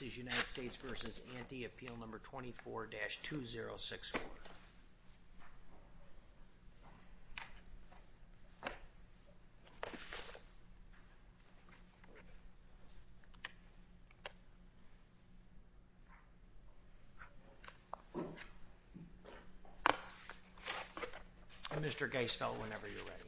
v. Anti Appeal No. 24-2064. Mr. Geisfeld, whenever you're ready.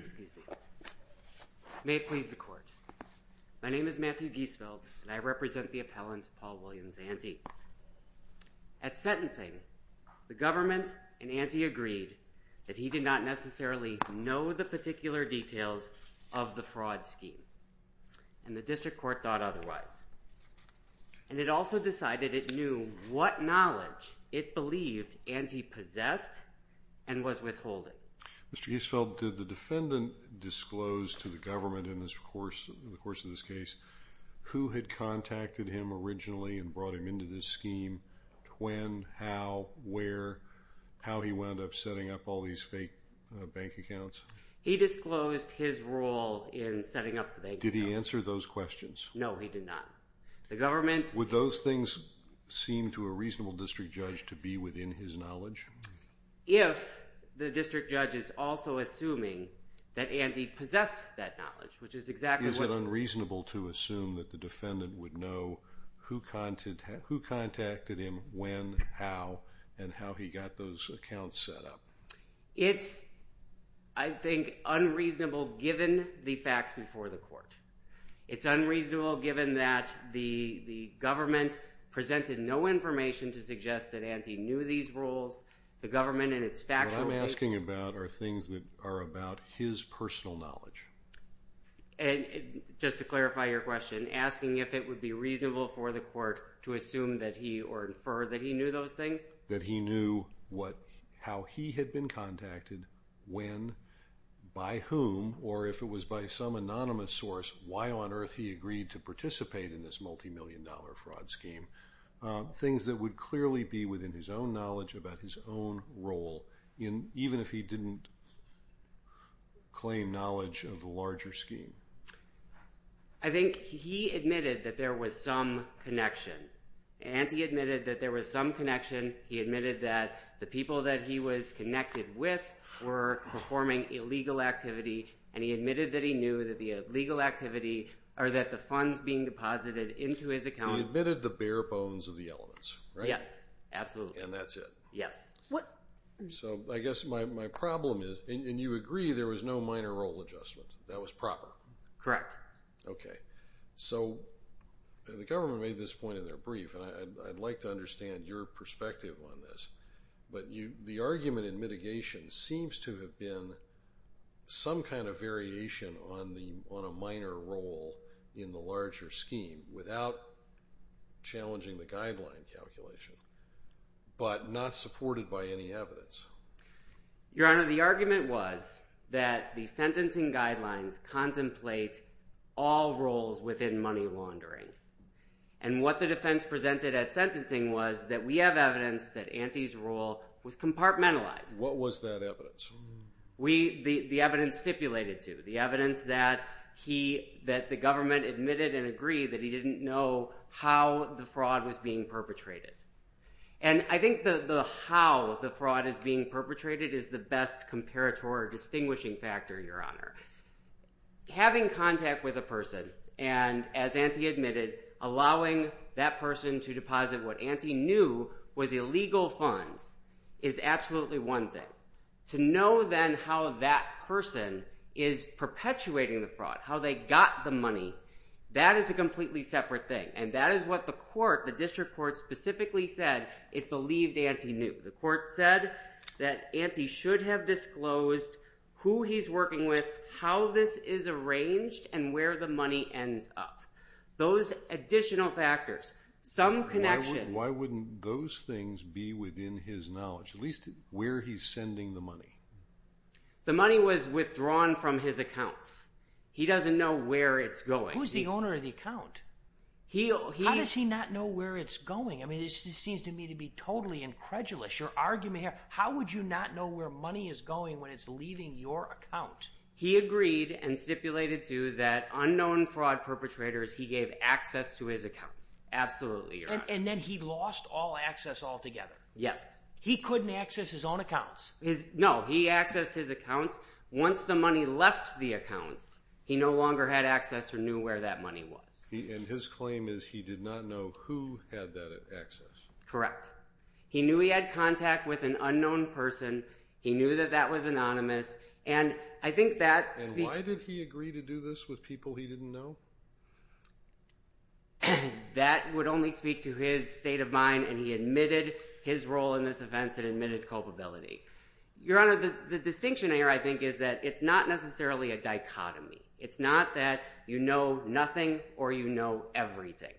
Excuse me. May it please the court. My name is Matthew Geisfeld, and I represent the appellant Paul Williams Anti. At sentencing, the government and Anti agreed that he did not necessarily know the particular details of the fraud scheme, and the district court thought otherwise. And it also decided it knew what knowledge it believed Anti possessed and was withholding. Mr. Geisfeld, did the defendant disclose to the government in the course of this case who had contacted him originally and brought him into this scheme, when, how, where, how he wound up setting up all these fake bank accounts? He disclosed his role in setting up the bank accounts. Did he answer those questions? No, he did not. Would those things seem to a reasonable district judge to be within his knowledge? If the district judge is also assuming that Anti possessed that knowledge, which is exactly what... Is it unreasonable to assume that the defendant would know who contacted him, when, how, and how he got those accounts set up? It's, I think, unreasonable given the facts before the court. It's unreasonable given that the government presented no information to suggest that Anti knew these rules. The government in its factual... What I'm asking about are things that are about his personal knowledge. And, just to clarify your question, asking if it would be reasonable for the court to assume that he, or infer that he knew those things? That he knew how he had been contacted, when, by whom, or if it was by some anonymous source, why on earth he agreed to participate in this multi-million dollar fraud scheme. Things that would clearly be within his own knowledge about his own role, even if he didn't claim knowledge of the larger scheme. I think he admitted that there was some connection. Anti admitted that there was some connection. He admitted that the people that he was connected with were performing illegal activity, and he admitted that he knew that the illegal activity, or that the funds being deposited into his account... He admitted the bare bones of the elements, right? Yes, absolutely. And that's it? Yes. So, I guess my problem is, and you agree there was no minor role adjustment. That was proper? Correct. Okay. So, the government made this point in their brief, and I'd like to understand your perspective on this. But, the argument in mitigation seems to have been some kind of variation on a minor role in the larger scheme, without challenging the guideline calculation, but not supported by any evidence. Your Honor, the argument was that the sentencing guidelines contemplate all roles within money laundering. And what the defense presented at sentencing was that we have evidence that Anti's role was compartmentalized. What was that evidence? The evidence stipulated to. The evidence that the government admitted and agreed that he didn't know how the fraud was being perpetrated. And I think the how the fraud is being perpetrated is the best comparator or distinguishing factor, Your Honor. Having contact with a person, and as Anti admitted, allowing that person to deposit what Anti knew was illegal funds is absolutely one thing. To know then how that person is perpetuating the fraud, how they got the money, that is a completely separate thing. And that is what the court, the district court, specifically said it believed Anti knew. The court said that Anti should have disclosed who he's working with, how this is arranged, and where the money ends up. Those additional factors, some connection. Why wouldn't those things be within his knowledge, at least where he's sending the money? The money was withdrawn from his account. He doesn't know where it's going. Who's the owner of the account? How does he not know where it's going? I mean, this seems to me to be totally incredulous. Your argument here, how would you not know where money is going when it's leaving your account? He agreed and stipulated too that unknown fraud perpetrators, he gave access to his accounts. Absolutely, Your Honor. And then he lost all access altogether? Yes. He couldn't access his own accounts? No, he accessed his accounts. Once the money left the accounts, he no longer had access or knew where that money was. And his claim is he did not know who had that access? Correct. He knew he had contact with an unknown person. He knew that that was anonymous. And I think that... And why did he agree to do this with people he didn't know? That would only speak to his state of mind. And he admitted his role in this offense and admitted culpability. Your Honor, the distinction here, I think, is that it's not necessarily a dichotomy. It's not that you know nothing or you know everything.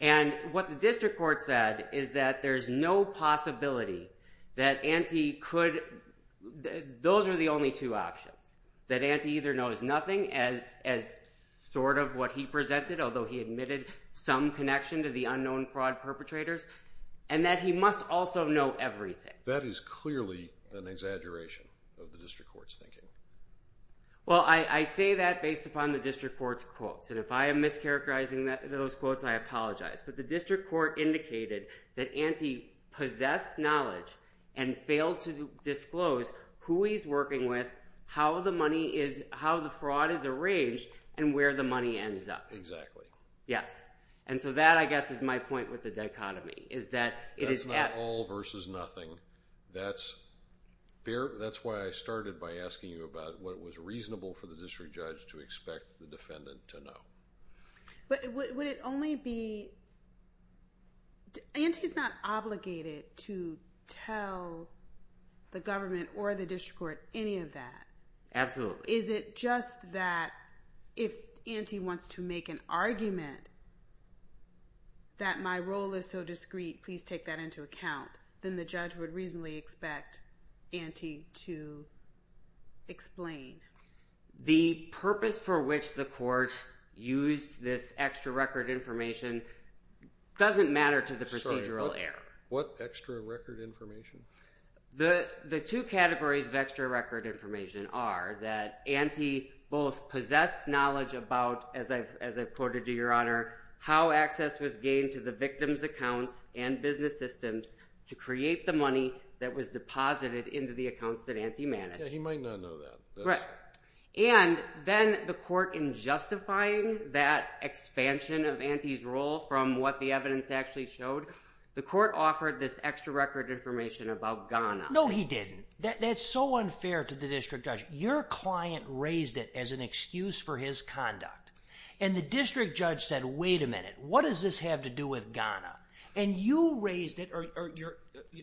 And what the district court said is that there's no possibility that Antti could... Those are the only two options. That Antti either knows nothing as sort of what he presented, although he admitted some connection to the unknown fraud perpetrators, and that he must also know everything. That is clearly an exaggeration of the district court's thinking. Well, I say that based upon the district court's quotes. And if I am mischaracterizing those quotes, I apologize. But the district court indicated that Antti possessed knowledge and failed to disclose who he's working with, how the fraud is arranged, and where the money ends up. Exactly. Yes. And so that, I guess, is my point with the dichotomy, is that it is... That's not all versus nothing. That's why I started by asking you about what was reasonable for the district judge to expect the defendant to know. But would it only be... Antti's not obligated to tell the government or the district court any of that. Absolutely. Is it just that if Antti wants to make an argument that my role is so discreet, please take that into account, then the judge would reasonably expect Antti to explain? The purpose for which the court used this extra record information doesn't matter to the procedural error. What extra record information? The two categories of extra record information are that Antti both possessed knowledge about, as I've quoted to your honor, how access was gained to the victim's accounts and business systems to create the money that was deposited into the accounts that Antti managed. Yeah, he might not know that. Right. And then the court, in justifying that expansion of Antti's role from what the evidence actually showed, the court offered this extra record information about Ghana. No, he didn't. That's so unfair to the district judge. Your client raised it as an excuse for his conduct. And the district judge said, wait a minute, what does this have to do with Ghana? And you raised it...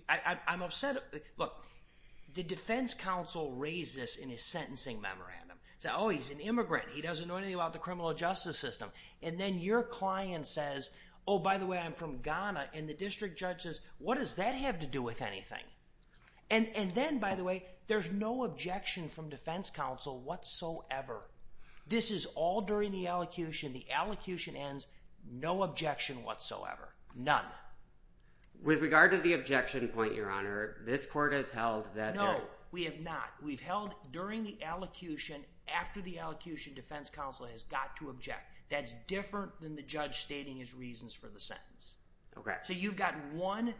I'm upset. Look, the defense counsel raised this in his sentencing memorandum. Said, oh, he's an immigrant. He doesn't know anything about the criminal justice system. And then your client says, oh, by the way, I'm from Ghana. And the district judge says, what does that have to do with anything? And then, by the way, there's no objection from defense counsel whatsoever. This is all during the elocution. The elocution ends, no objection whatsoever. None. With regard to the objection point, your honor, this court has held that... No, we have not. We've held during the elocution, after the elocution, defense counsel has got to object. That's different than the judge stating his reasons for the sentence. Okay. So you've got one,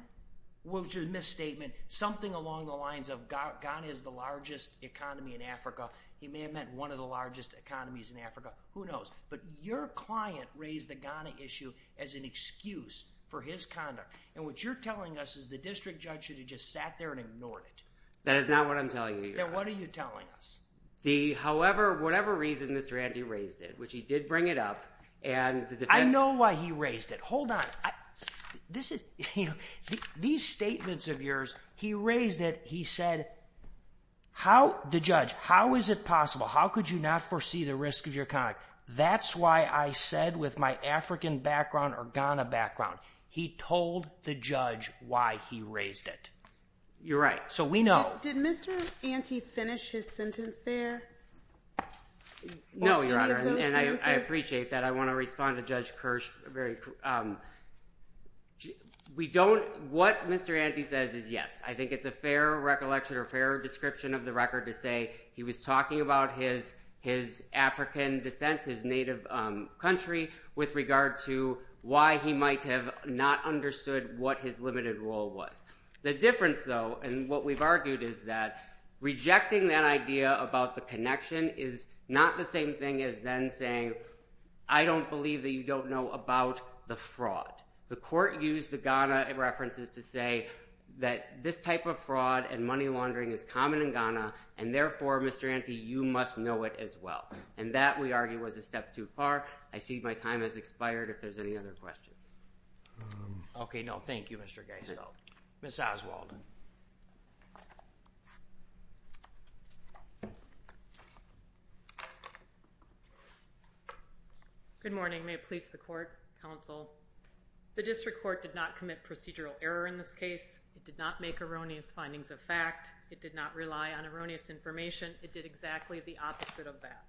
which is a misstatement, something along the lines of Ghana is the largest economy in Africa. He may have meant one of the largest economies in Africa. Who knows? But your client raised the Ghana issue as an excuse for his conduct. And what you're telling us is the district judge should have just sat there and ignored it. That is not what I'm telling you, your honor. Then what are you telling us? However, whatever reason Mr. Andy raised it, which he did bring it up, and the defense... I know why he raised it. Hold on. These statements of yours, he raised it. He said, the judge, how is it possible? How could you not foresee the risk of your conduct? That's why I said with my African background or Ghana background, he told the judge why he raised it. You're right. So we know... Did Mr. Andy finish his sentence there? No, your honor. And I appreciate that. I want to respond to Judge Kirsch. What Mr. Andy says is yes. I think it's a fair recollection or fair description of the record to say he was talking about his African descent, his native country, with regard to why he might have not understood what his limited role was. The difference though, and what we've argued, is that rejecting that idea about the connection is not the same thing as then saying, I don't believe that you don't know about the fraud. The court used the Ghana references to say that this type of fraud and money laundering is common in Ghana, and therefore, Mr. Andy, you must know it as well. And that, we argue, was a step too far. I see my time has expired if there's any other questions. Okay. No, thank you, Mr. Geisel. Ms. Oswald. Good morning. May it please the court, counsel. The district court did not commit procedural error in this case. It did not make erroneous findings of fact. It did not rely on erroneous information. It did exactly the opposite of that.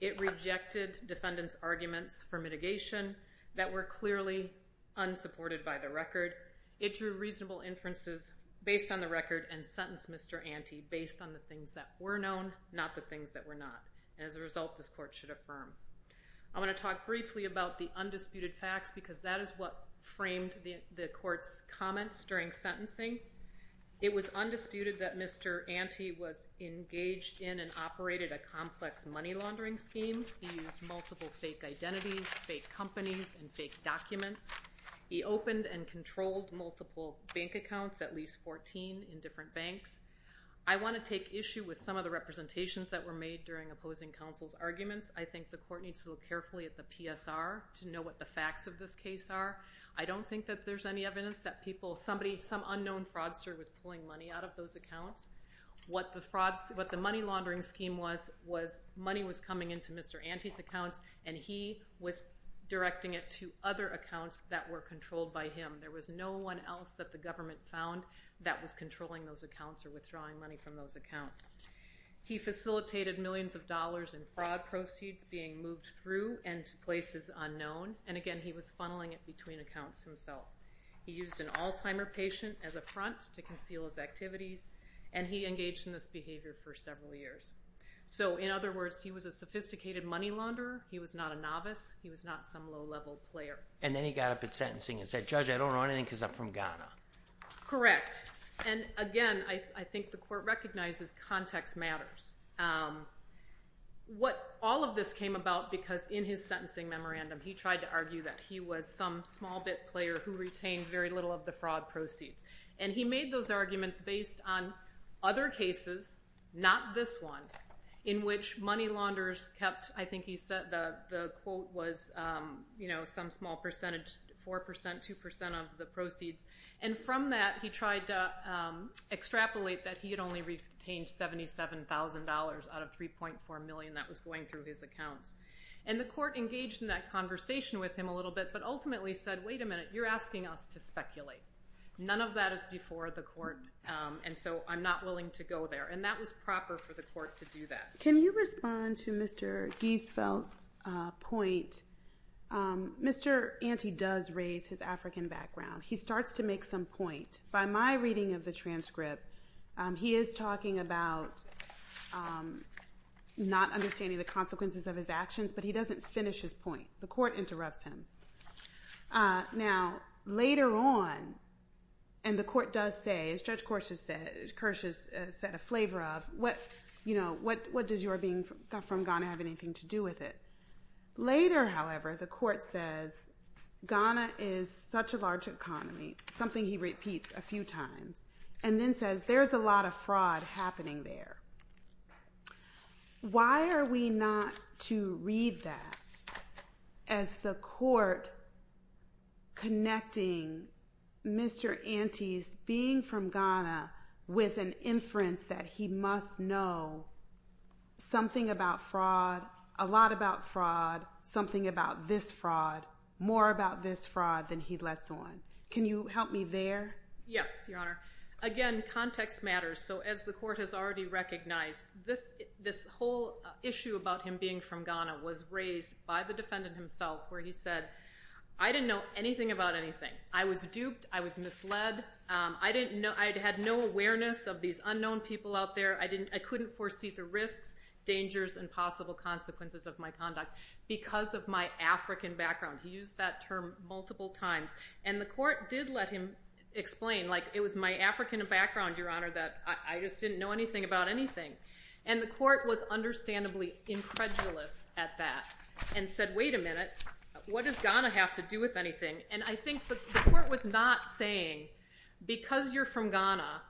It rejected defendants' arguments for mitigation that were clearly unsupported by the record. It drew reasonable inferences based on the record and sentenced Mr. Andy based on the things that were known, not the things that were not. And as a result, this court should affirm. I want to talk briefly about the undisputed facts because that is what framed the court's comments during sentencing. It was undisputed that Mr. Andy was engaged in and operated a complex money laundering scheme. He used multiple fake identities, fake companies, and fake documents. He opened and controlled multiple bank accounts, at least 14 in different banks. I want to take issue with some of the representations that were made during opposing counsel's arguments. I think the court needs to look carefully at the PSR to know what the facts of this case are. I don't think that there's any evidence that people, somebody, some unknown fraudster was pulling money out of those accounts. What the money laundering scheme was, was money was coming into Mr. Andy's accounts and he was directing it to other accounts that were controlled by him. There was no one else that the government found that was controlling those accounts or withdrawing money from those accounts. He facilitated millions of dollars in fraud proceeds being moved through and to places unknown. And again, he was funneling it between accounts himself. He used an Alzheimer patient as a front to conceal his activities and he engaged in this behavior for several years. So in other words, he was a sophisticated money launderer. He was not a novice. He was not some low-level player. And then he got up at sentencing and said, Judge, I don't know anything because I'm from Ghana. Correct. And again, I think the court recognizes context matters. What all of this came about because in his sentencing memorandum, he tried to argue that he was some small-bit player who retained very little of the fraud proceeds. And he made those arguments based on other cases, not this one, in which money launderers kept, I think he said, the quote was some small percentage, 4%, 2% of the proceeds. And from that, he tried to extrapolate that he had only retained $77,000 out of $3.4 million that was going through his accounts. And the court engaged in that conversation with him a little bit, but ultimately said, wait a minute, you're asking us to speculate. None of that is before the court. And so I'm not willing to go there. And that was proper for the court to do that. Can you respond to Mr. Giesfeld's point? Mr. Ante does raise his African background. He starts to make some point. By my reading of the transcript, he is talking about not understanding the consequences of his actions, but he doesn't finish his point. The court interrupts him. Now, later on, and the court does say, as Judge Kirsch has said, a flavor of, what does your being from Ghana have anything to do with it? Later, however, the court says, Ghana is such a large area. Why are we not to read that as the court connecting Mr. Ante's being from Ghana with an inference that he must know something about fraud, a lot about fraud, something about this fraud, more about this fraud than he lets on? Can you help me there? Yes, Your Honor. Again, context matters. So as the court has already recognized, this whole issue about him being from Ghana was raised by the defendant himself, where he said, I didn't know anything about anything. I was duped. I was misled. I had no awareness of these unknown people out there. I couldn't foresee the risks, dangers, and possible consequences of my conduct because of my African background. He used that term multiple times. And the court did let him explain, like, it was my African background, Your Honor, that I just didn't know anything about anything. And the court was understandably incredulous at that and said, wait a minute. What does Ghana have to do with anything? And I think the court was not saying, because you're from Ghana,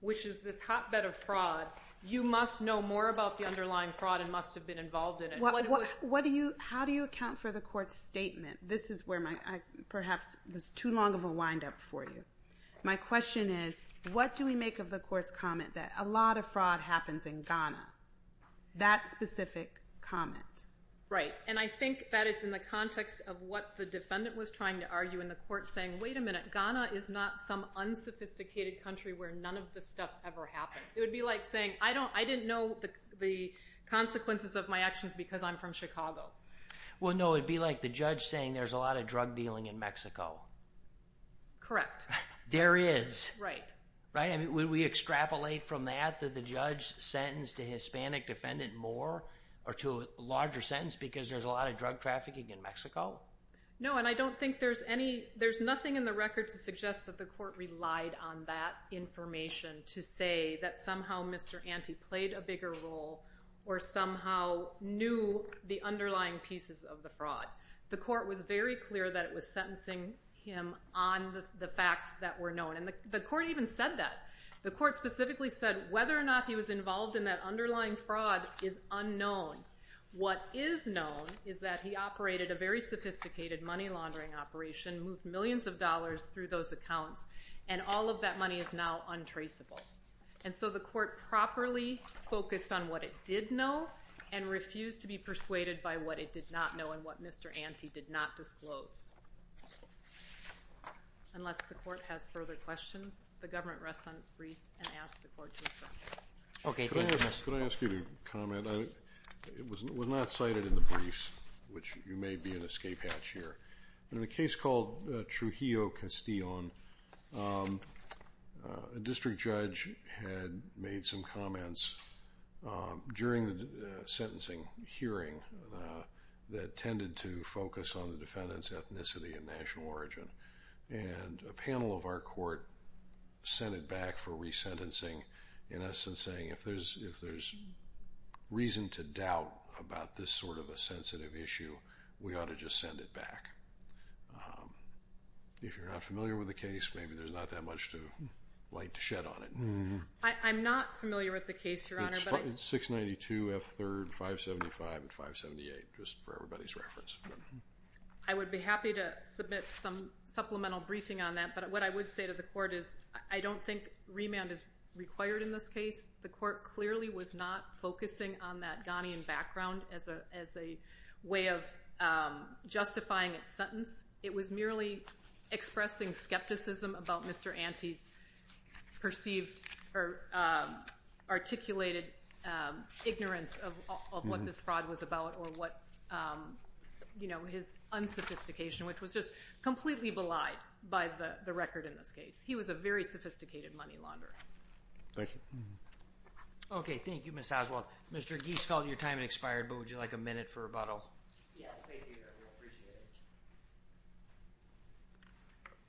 which is this hotbed of fraud, you must know more about the underlying fraud and must have been involved in it. What do you, how do you account for the court's statement? This is where my, I perhaps was too long of a wind up for you. My question is, what do we make of the court's comment that a lot of fraud happens in Ghana, that specific comment? Right. And I think that is in the context of what the defendant was trying to argue in the court, saying, wait a minute, Ghana is not some unsophisticated country where none of this stuff ever happened. It would be like saying, I don't, I didn't know the consequences of my actions because I'm from Chicago. Well, no, it'd be like the judge saying there's a lot of drug dealing in Mexico. Correct. There is. Right. Right. I mean, would we extrapolate from that that the judge sentenced a Hispanic defendant more or to a larger sentence because there's a lot of drug trafficking in Mexico? No, and I don't think there's any, there's nothing in the record to suggest that the court relied on that information to say that somehow Mr. Ante played a bigger role or somehow knew the underlying pieces of the fraud. The court was very clear that it was sentencing him on the facts that were known. And the court even said that. The court specifically said whether or not he was involved in that underlying fraud is unknown. What is known is that he operated a very sophisticated money laundering operation, moved millions of dollars through those accounts, and all of that money is now untraceable. And so the court properly focused on what it did know and refused to be persuaded by what it did not know and what Mr. Ante did not disclose. Unless the court has further questions, the government rests on its brief and asks the court to adjourn. Okay. Can I ask you to comment? It was not cited in the briefs, which you may be an escape hatch here. In a case called Trujillo Castillon, a district judge had made some comments during the sentencing hearing that tended to focus on the defendant's ethnicity and national origin. And a panel of our court sent it back for resentencing, in essence saying if there's reason to doubt about this sort of a sensitive issue, we ought to just send it back. If you're not familiar with the case, maybe there's not that much light to shed on it. I'm not familiar with the case, Your Honor. It's 692 F3rd 575 and 578, just for everybody's reference. I would be happy to submit some supplemental briefing on that, but what I would say to the court is I don't think remand is required in this case. The court clearly was not focusing on that Ghanaian background as a way of justifying its sentence. It was merely expressing skepticism about Mr. Ante's perceived or articulated ignorance of what this fraud was about or what, you know, his unsophistication, which was just completely belied by the record in this case. He was a very sophisticated money launderer. Thank you. Okay. Thank you, Ms. Oswald. Mr. Giesfeld, your time has expired, but would you like a minute for rebuttal? Yes, thank you, Your Honor. I appreciate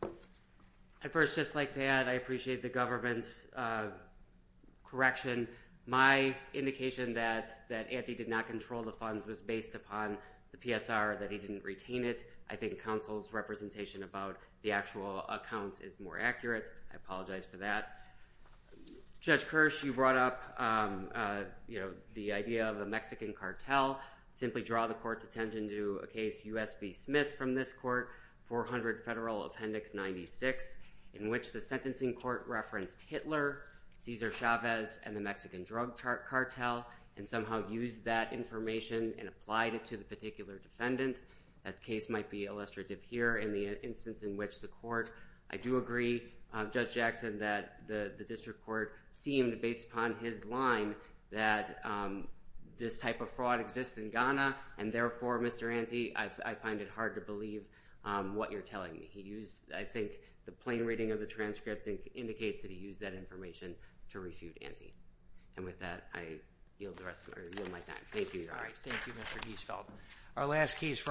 it. I'd first just like to add I appreciate the government's correction. My indication that that Ante did not control the funds was based upon the PSR, that he didn't retain it. I think counsel's representation about the actual accounts is more accurate. I apologize for that. Judge Kirsch, you brought up the idea of the Mexican cartel. Simply draw the court's attention to a case, U.S. v. Smith, from this court, 400 Federal Appendix 96, in which the sentencing court referenced Hitler, Cesar Chavez, and the Mexican drug cartel and somehow used that information and applied it to the particular defendant. That case might be illustrative here in the instance in which the court. I do agree, Judge Jackson, that the district court seemed, based upon his line, that this type of fraud exists in Ghana, and therefore, Mr. Ante, I find it hard to believe what you're telling me. He used, I think, the plain reading of the transcript indicates that he used that information to refute Ante. And with that, I yield my time. Thank you, Your Honor. Thank you, Mr. Giesfeld.